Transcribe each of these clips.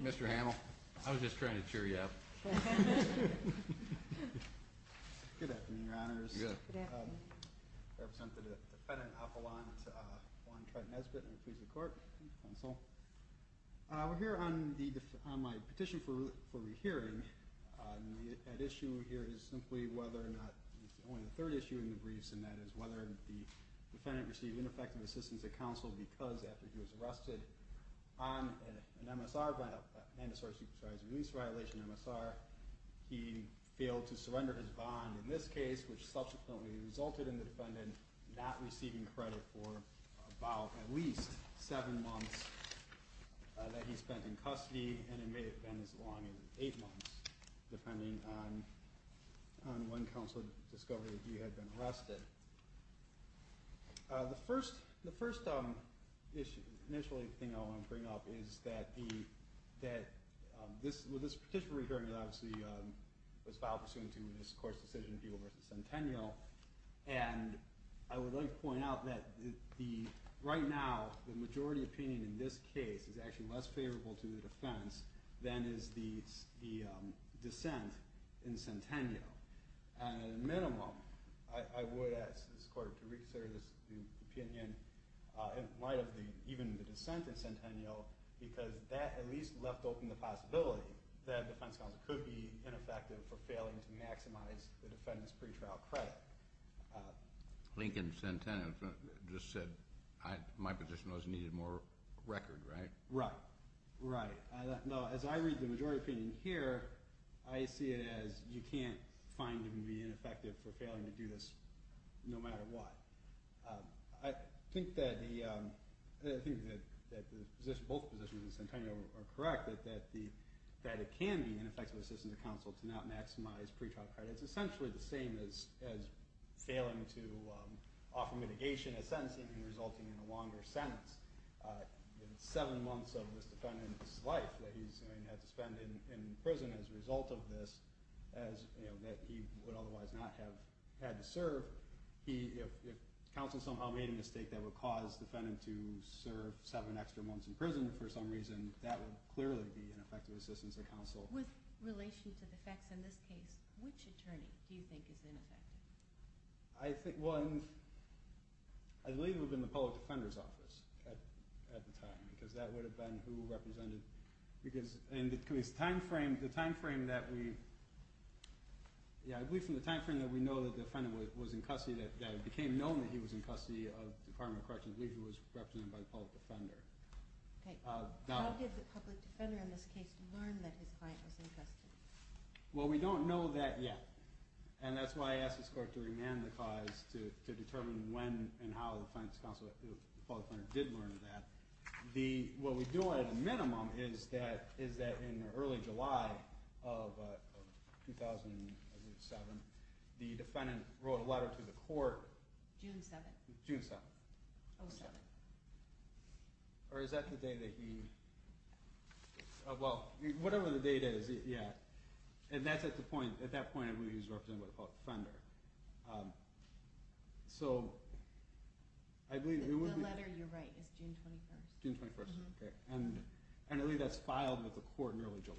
Mr. Hamill, I was just trying to cheer you up. Good afternoon, your honors. I represent the defendant, Appelant Juan Trent Nesbit, and I'm here on my petition for this petition. The issue here is simply whether or not, it's only the third issue in the briefs, and that is whether the defendant received ineffective assistance at counsel because after he was arrested on an MSR, an MSR, I'm sorry, a release violation MSR, he failed to surrender his bond in this case, which subsequently resulted in the defendant not receiving credit for about at least seven months that he spent in custody, and it may have been as long as eight months, depending on when counsel discovered that he had been arrested. The first thing I want to bring up is that this petition we're hearing obviously was filed pursuant to this court's decision, People v. Centennial, and I would like to point out that right now, the majority opinion in this case is actually less favorable to the defense than is the dissent in Centennial, and at a minimum, I would like this court to reconsider this opinion in light of even the dissent in Centennial, because that at least left open the possibility that a defense counsel could be ineffective for failing to maximize the defendant's pretrial credit. Lincoln Centennial just said my petition was needed more record, right? Right. Right. No, as I read the majority opinion here, I see it as you can't find him to be ineffective for failing to do this no matter what. I think that both positions in Centennial are correct, that it can be ineffective assistance to counsel to not maximize pretrial credit. It's essentially the same as failing to offer mitigation as sentencing and resulting in a longer sentence. Seven months of this defendant's life that he's had to spend in prison as a result of this, that he would otherwise not have had to serve, if counsel somehow made a mistake that would cause the defendant to serve seven extra months in prison for some reason, that would clearly be ineffective assistance to counsel. With relation to the facts in this case, which attorney do you think is ineffective? I believe it would have been the public defender's office at the time, because that would have been who represented because in the time frame that we know that the defendant was in custody, that it became known that he was in custody of the Department of How did the public defender in this case learn that his client was in custody? Well, we don't know that yet, and that's why I asked this court to remand the cause to determine when and how the public defender did learn that. What we do at a minimum is that in early July of 2007, the defendant wrote a letter to the court. June 7th. June 7th. Or is that the day that he, well, whatever the date is, yeah. And that's at the point, at that point I believe he was represented by the public defender. So, I believe. The letter you write is June 21st. June 21st, okay. And I believe that's filed with the court in early July.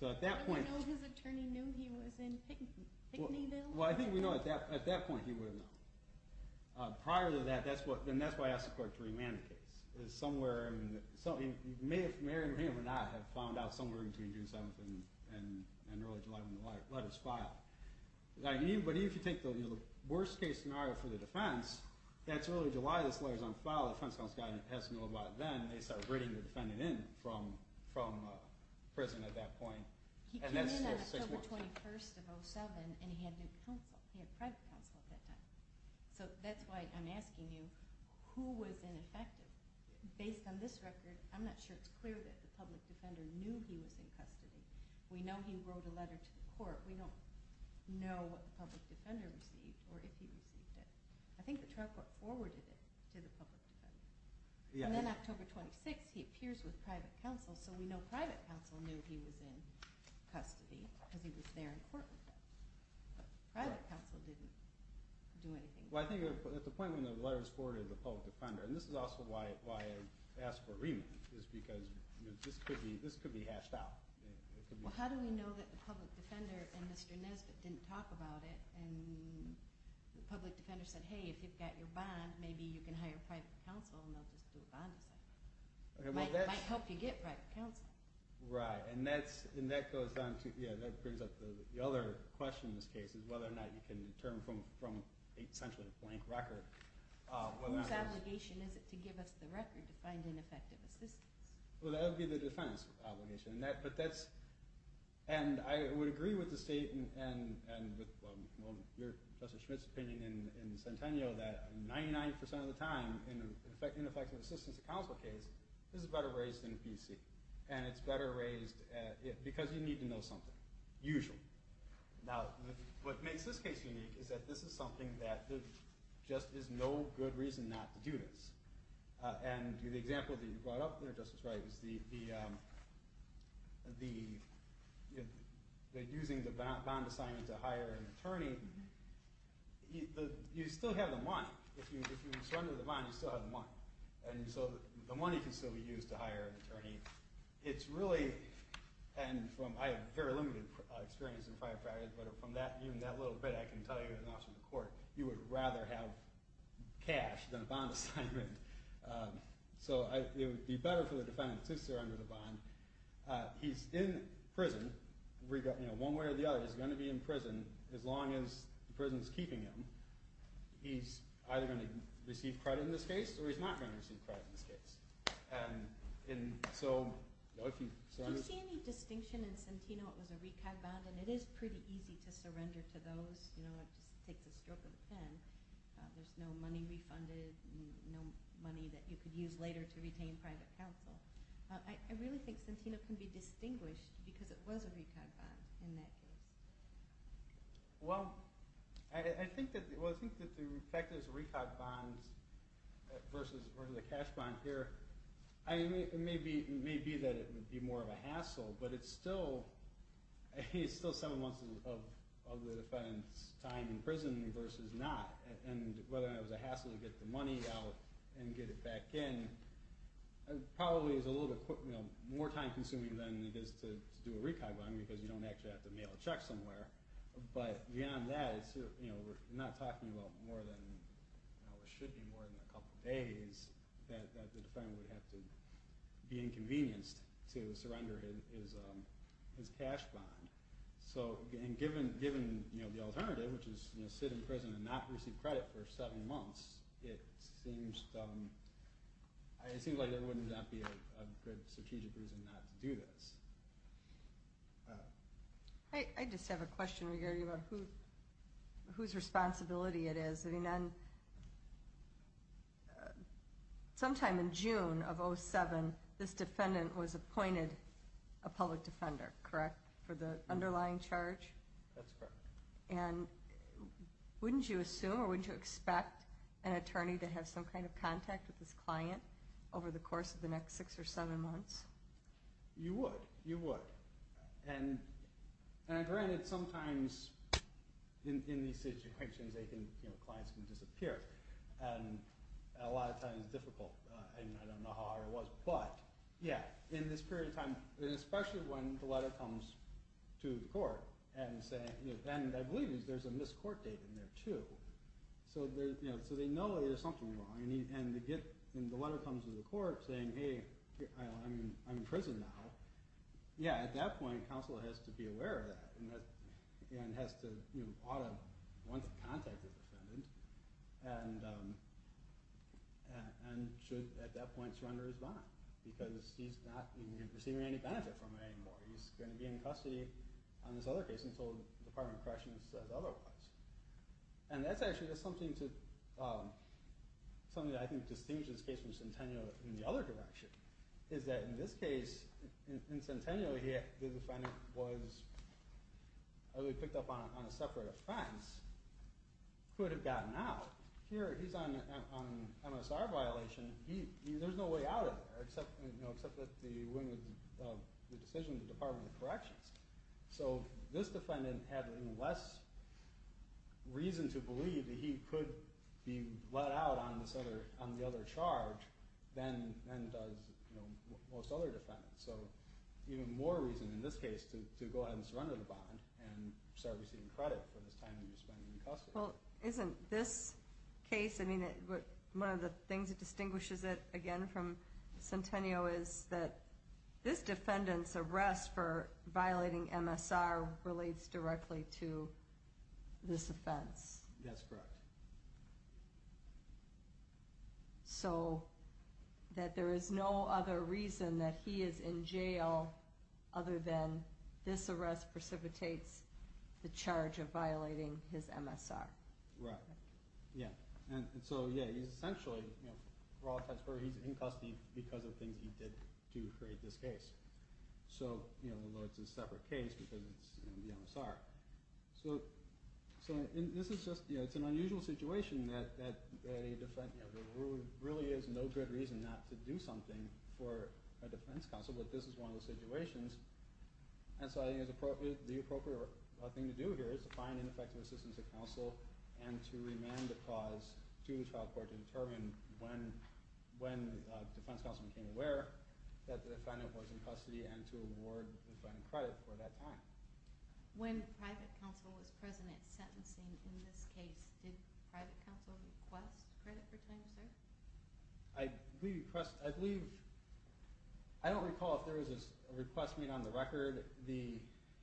So at that point, well I think we know at that point he would have known. Prior to that, that's why I asked the court to remand the case. It's somewhere, it may or may not have found out somewhere between June 7th and early July when the letter's filed. But even if you think the worst case scenario for the defense, that's early July, this letter's on file, the defense counsel has to know about it then, and they start bringing the defendant in from prison at that point. And that's still June 6th. He came in on October 21st of 2007, and he had new counsel. He had private counsel at that time. So that's why I'm asking you, who was ineffective? Based on this record, I'm not sure it's clear that the public defender knew he was in custody. We know he wrote a letter to the court. We don't know what the public defender received or if he received it. I think the trial court forwarded it to the public defender. And then October 26th, he appears with private counsel, so we know private counsel knew he was in custody because he was there in court with them. But private counsel didn't do anything. Well, I think at the point when the letter was forwarded to the public defender, and this is also why I asked for a remand, is because this could be hashed out. Well, how do we know that the public defender and Mr. Nesbitt didn't talk about it, and the public defender said, hey, if you've got your bond, maybe you can hire private counsel and they'll just do a bond assignment. It might help you get private counsel. Right, and that brings up the other question in this case, is whether or not you can determine from essentially a blank record. Whose obligation is it to give us the record to find ineffective assistance? Well, that would be the defense obligation. And I would agree with the State and with Justice Schmitt's opinion in Centennial that 99% of the time, in an ineffective assistance to counsel case, this is better raised in a PC, and it's better raised because you need to know something, usually. Now, what makes this case unique is that this is something that there just is no good reason not to do this. And the example that you brought up there, Justice Wright, is the using the bond assignment to hire an attorney, you still have the money. If you surrender the bond, you still have the money. And so the money can still be used to hire an attorney. It's really, and I have very limited experience in firefighters, but from that little bit I can tell you as an officer of the court, you would rather have cash than a bond assignment. So it would be better for the defendant to surrender the bond. He's in prison, one way or the other, he's going to be in prison as long as the prison is keeping him. He's either going to receive credit in this case, or he's not going to receive credit in this case. Do you see any distinction in Centennial? It was a recap bond, and it is pretty easy to surrender to those. It just takes a stroke of a pen. There's no money refunded, no money that you could use later to retain private counsel. I really think Centennial can be distinguished because it was a recap bond in that case. Well, I think that the fact that it's a recap bond versus the cash bond here, it may be that it would be more of a hassle, but it's still some amounts of the defendant's time in prison versus not. And whether or not it was a hassle to get the money out and get it back in, it probably is a little bit more time consuming than it is to do a recap bond, because you don't actually have to mail a check somewhere. But beyond that, we're not talking about more than a couple days that the defendant would have to be inconvenienced to surrender his cash bond. So given the alternative, which is sit in prison and not receive credit for seven months, it seems like there would not be a good strategic reason not to do this. I just have a question regarding whose responsibility it is. Sometime in June of 2007, this defendant was appointed a public defender, correct, for the underlying charge? That's correct. And wouldn't you assume or wouldn't you expect an attorney to have some kind of contact with this client over the course of the next six or seven months? You would. You would. And granted, sometimes in these situations they think clients can disappear, and a lot of times it's difficult. I don't know how hard it was, but yeah, in this period of time, especially when the letter comes to the court, and I believe there's a missed court date in there too, so they know there's something wrong. And the letter comes to the court saying, hey, I'm in prison now. Yeah, at that point, counsel has to be aware of that and has to want to contact the defendant and should at that point surrender his bond because he's not receiving any benefit from it anymore. He's going to be in custody on this other case until the Department of Corrections says otherwise. And that's actually something that I think distinguishes this case from Centennial in the other direction, is that in this case, in Centennial, the defendant was picked up on a separate offense, could have gotten out. Here he's on an MSR violation. There's no way out of there except that the decision of the Department of Corrections. So this defendant had less reason to believe that he could be let out on the other charge than most other defendants. So even more reason in this case to go ahead and surrender the bond and start receiving credit for this time he was in custody. Well, isn't this case, I mean, one of the things that distinguishes it, again, from Centennial is that this defendant's arrest for violating MSR relates directly to this offense. That's correct. So that there is no other reason that he is in jail other than this arrest precipitates the charge of violating his MSR. Right. Yeah. And so, yeah, he's essentially, for all intents and purposes, he's in custody because of things he did to create this case. So, you know, although it's a separate case because it's the MSR. So this is just, you know, it's an unusual situation that a defendant, you know, there really is no good reason not to do something for a defense counsel, but this is one of those situations. And so I think the appropriate thing to do here is to find an effective assistance to counsel and to remand the cause to the trial court to determine when the defense counsel became aware that the defendant was in custody and to award the defendant credit for that time. When private counsel was present at sentencing in this case, did private counsel request credit for time, sir? I believe, I don't recall if there was a request made on the record. The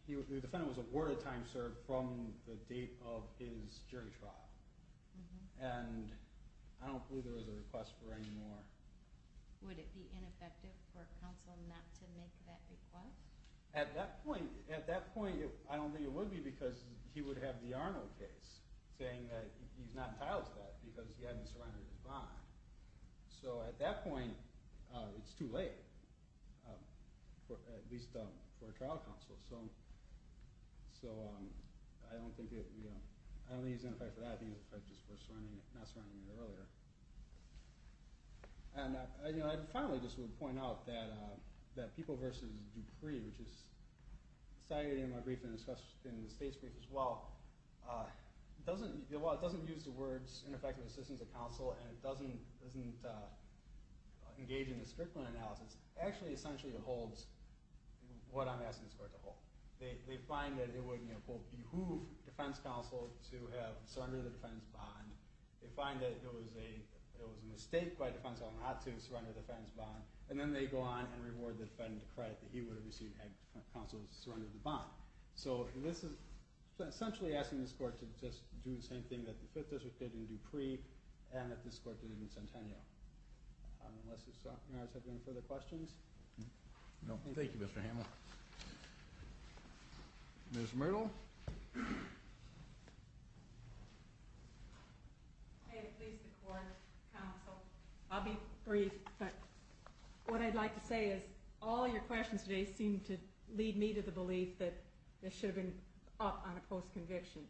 defendant was awarded time served from the date of his jury trial. And I don't believe there was a request for any more. Would it be ineffective for counsel not to make that request? At that point, I don't think it would be because he would have the Arno case saying that he's not entitled to that because he hadn't surrendered his bond. So at that point, it's too late, at least for a trial counsel. So I don't think it's ineffective for that. I think it's just for not surrounding it earlier. And, you know, I finally just would point out that people versus Dupree, which is cited in my brief and discussed in the state's brief as well, doesn't use the words ineffective assistance of counsel, and it doesn't engage in the Strickland analysis. Actually, essentially it holds what I'm asking this court to hold. They find that it would, you know, behoove defense counsel to have surrendered the defense bond. They find that it was a mistake by defense counsel not to surrender the defense bond. And then they go on and reward the defendant credit that he would have received had counsel surrendered the bond. So this is essentially asking this court to just do the same thing that the Fifth District did in Dupree and that this court did in Centennial. Unless there are any further questions. No. Thank you, Mr. Hamel. Ms. Myrtle. At least the court counsel. I'll be brief, but what I'd like to say is all your questions today seem to lead me to the belief that this should have been up on a post-conviction.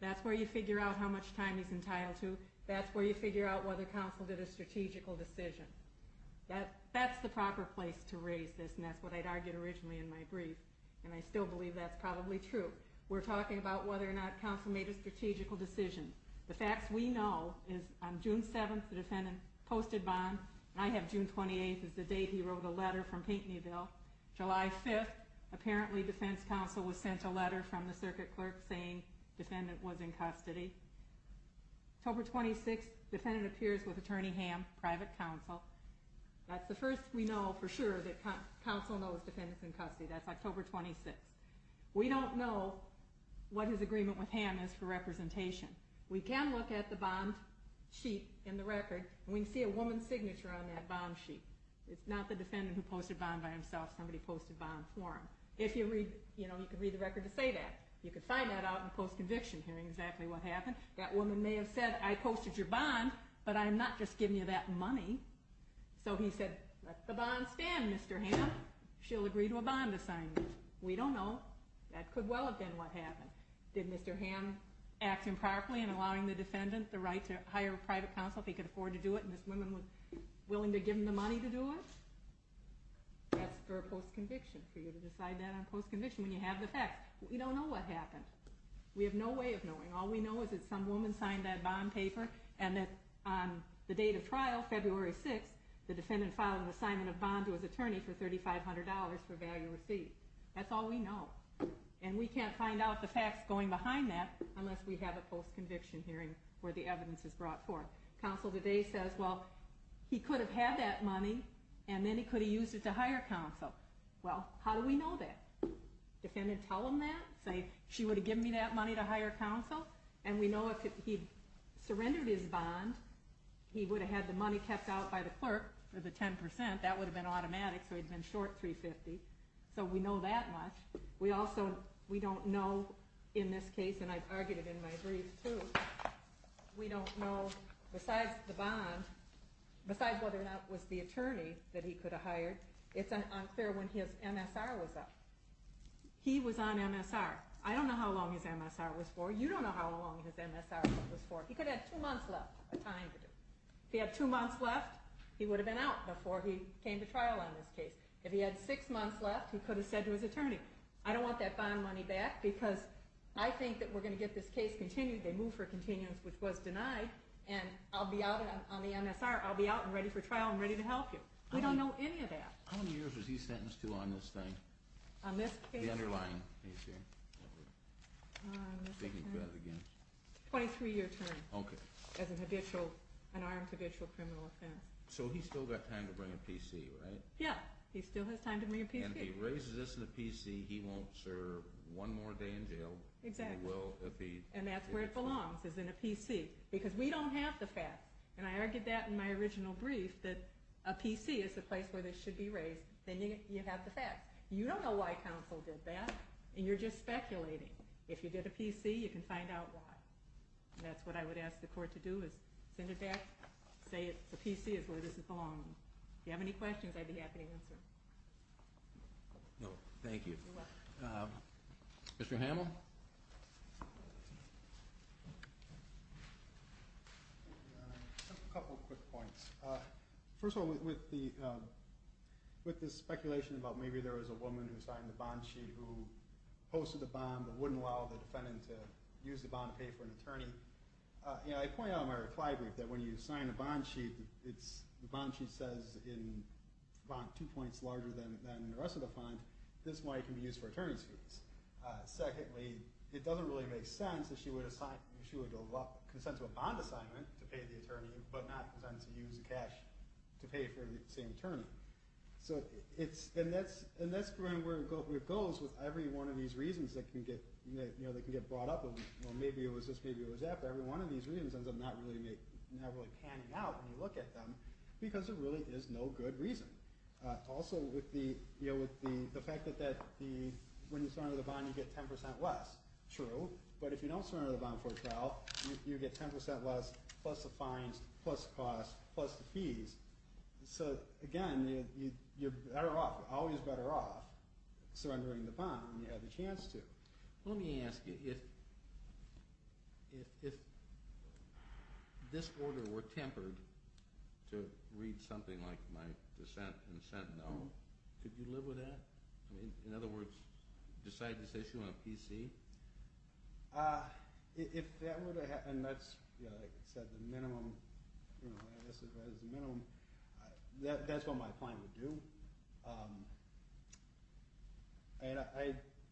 That's where you figure out how much time he's entitled to. That's where you figure out whether counsel did a strategical decision. That's the proper place to raise this, and that's what I'd argued originally in my brief, and I still believe that's probably true. We're talking about whether or not counsel made a strategical decision. The facts we know is on June 7th the defendant posted bond, and I have June 28th as the date he wrote a letter from Pinckneyville. July 5th, apparently defense counsel was sent a letter from the circuit clerk saying defendant was in custody. October 26th, defendant appears with Attorney Ham, private counsel. That's the first we know for sure that counsel knows defendant's in custody. That's October 26th. We don't know what his agreement with Ham is for representation. We can look at the bond sheet in the record, and we can see a woman's signature on that bond sheet. It's not the defendant who posted bond by himself. Somebody posted bond for him. You can read the record to say that. You can find that out in post-conviction, hearing exactly what happened. That woman may have said, I posted your bond, but I'm not just giving you that money. So he said, let the bond stand, Mr. Ham. She'll agree to a bond assignment. We don't know. That could well have been what happened. Did Mr. Ham act improperly in allowing the defendant the right to hire private counsel if he could afford to do it, and this woman was willing to give him the money to do it? That's for post-conviction, for you to decide that on post-conviction when you have the facts. We don't know what happened. We have no way of knowing. All we know is that some woman signed that bond paper, and that on the date of trial, February 6th, the defendant filed an assignment of bond to his attorney for $3,500 for value receipt. That's all we know. And we can't find out the facts going behind that unless we have a post-conviction hearing where the evidence is brought forth. Counsel today says, well, he could have had that money, and then he could have used it to hire counsel. Well, how do we know that? Defendant tell him that? Say, she would have given me that money to hire counsel? And we know if he surrendered his bond, he would have had the money kept out by the clerk for the 10%. That would have been automatic, so he'd been short $350. So we know that much. We also don't know in this case, and I've argued it in my brief too, we don't know besides the bond, besides whether or not it was the attorney that he could have hired, it's unclear when his MSR was up. He was on MSR. I don't know how long his MSR was for. You don't know how long his MSR was for. He could have had two months left of time to do it. If he had two months left, he would have been out before he came to trial on this case. If he had six months left, he could have said to his attorney, I don't want that bond money back because I think that we're going to get this case continued. They move for continuance, which was denied, and I'll be out on the MSR. I'll be out and ready for trial and ready to help you. We don't know any of that. How many years was he sentenced to on this thing? On this case? The underlying case here. I'm thinking about it again. 23-year term. Okay. As an armed, habitual criminal offense. So he's still got time to bring a PC, right? Yeah. He still has time to bring a PC. And if he raises this in the PC, he won't serve one more day in jail. Exactly. And that's where it belongs, is in a PC. Because we don't have the facts. And I argued that in my original brief, that a PC is the place where this should be raised. Then you have the facts. You don't know why counsel did that, and you're just speculating. If you get a PC, you can find out why. And that's what I would ask the court to do, is send it back, say the PC is where this is belonging. If you have any questions, I'd be happy to answer. Thank you. Mr. Hamill? A couple quick points. First of all, with the speculation about maybe there was a woman who signed the bond sheet who posted the bond but wouldn't allow the defendant to use the bond to pay for an attorney, I point out in my reply brief that when you sign a bond sheet, the bond sheet says in the bond two points larger than the rest of the fund. This is why it can be used for attorney fees. Secondly, it doesn't really make sense that she would consent to a bond assignment to pay the attorney but not consent to use the cash to pay for the same attorney. And that's where it goes with every one of these reasons that can get brought up. Maybe it was this, maybe it was that, but every one of these reasons ends up not really panning out when you look at them because there really is no good reason. Also, with the fact that when you surrender the bond, you get 10% less. True, but if you don't surrender the bond for a trial, you get 10% less plus the fines, plus the cost, plus the fees. So, again, you're better off, always better off surrendering the bond when you have the chance to. Let me ask you, if this order were tempered to read something like my dissent in Sentinel, could you live with that? In other words, decide this issue on a PC? If that were to happen, that's, like I said, the minimum, that's what my plan would do. And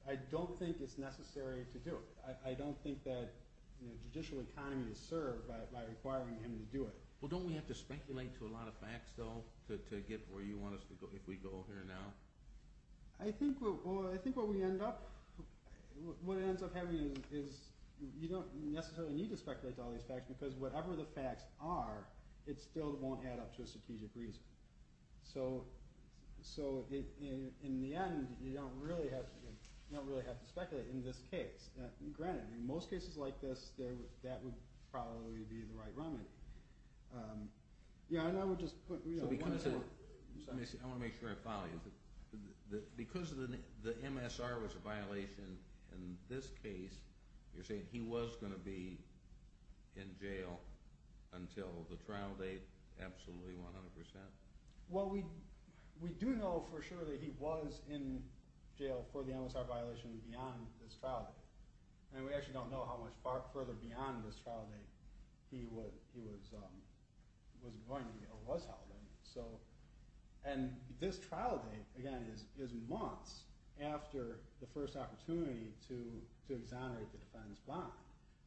I don't think it's necessary to do it. I don't think that the judicial economy is served by requiring him to do it. Well, don't we have to speculate to a lot of facts, though, to get where you want us to go if we go here now? I think what we end up, what it ends up having is you don't necessarily need to speculate to all these facts because whatever the facts are, it still won't add up to a strategic reason. So, in the end, you don't really have to speculate in this case. Granted, in most cases like this, that would probably be the right remedy. Yeah, and I would just put, you know... I want to make sure I follow you. Because the MSR was a violation in this case, you're saying he was going to be in jail until the trial date? Absolutely, 100%. Well, we do know for sure that he was in jail for the MSR violation beyond this trial date. And we actually don't know how much further beyond this trial date he was going to be, or was held in. And this trial date, again, is months after the first opportunity to exonerate the defense bond.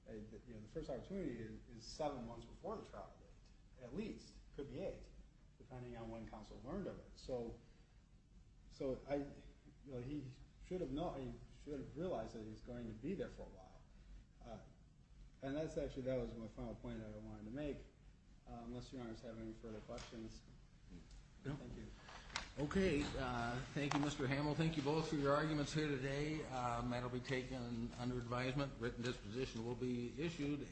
The first opportunity is seven months before the trial date, at least. It could be eight, depending on when counsel learned of it. So, he should have realized that he was going to be there for a while. And that was actually my final point I wanted to make. Unless your honors have any further questions. Thank you. Okay. Thank you, Mr. Hamel. Thank you both for your arguments here today. That will be taken under advisement. Written disposition will be issued.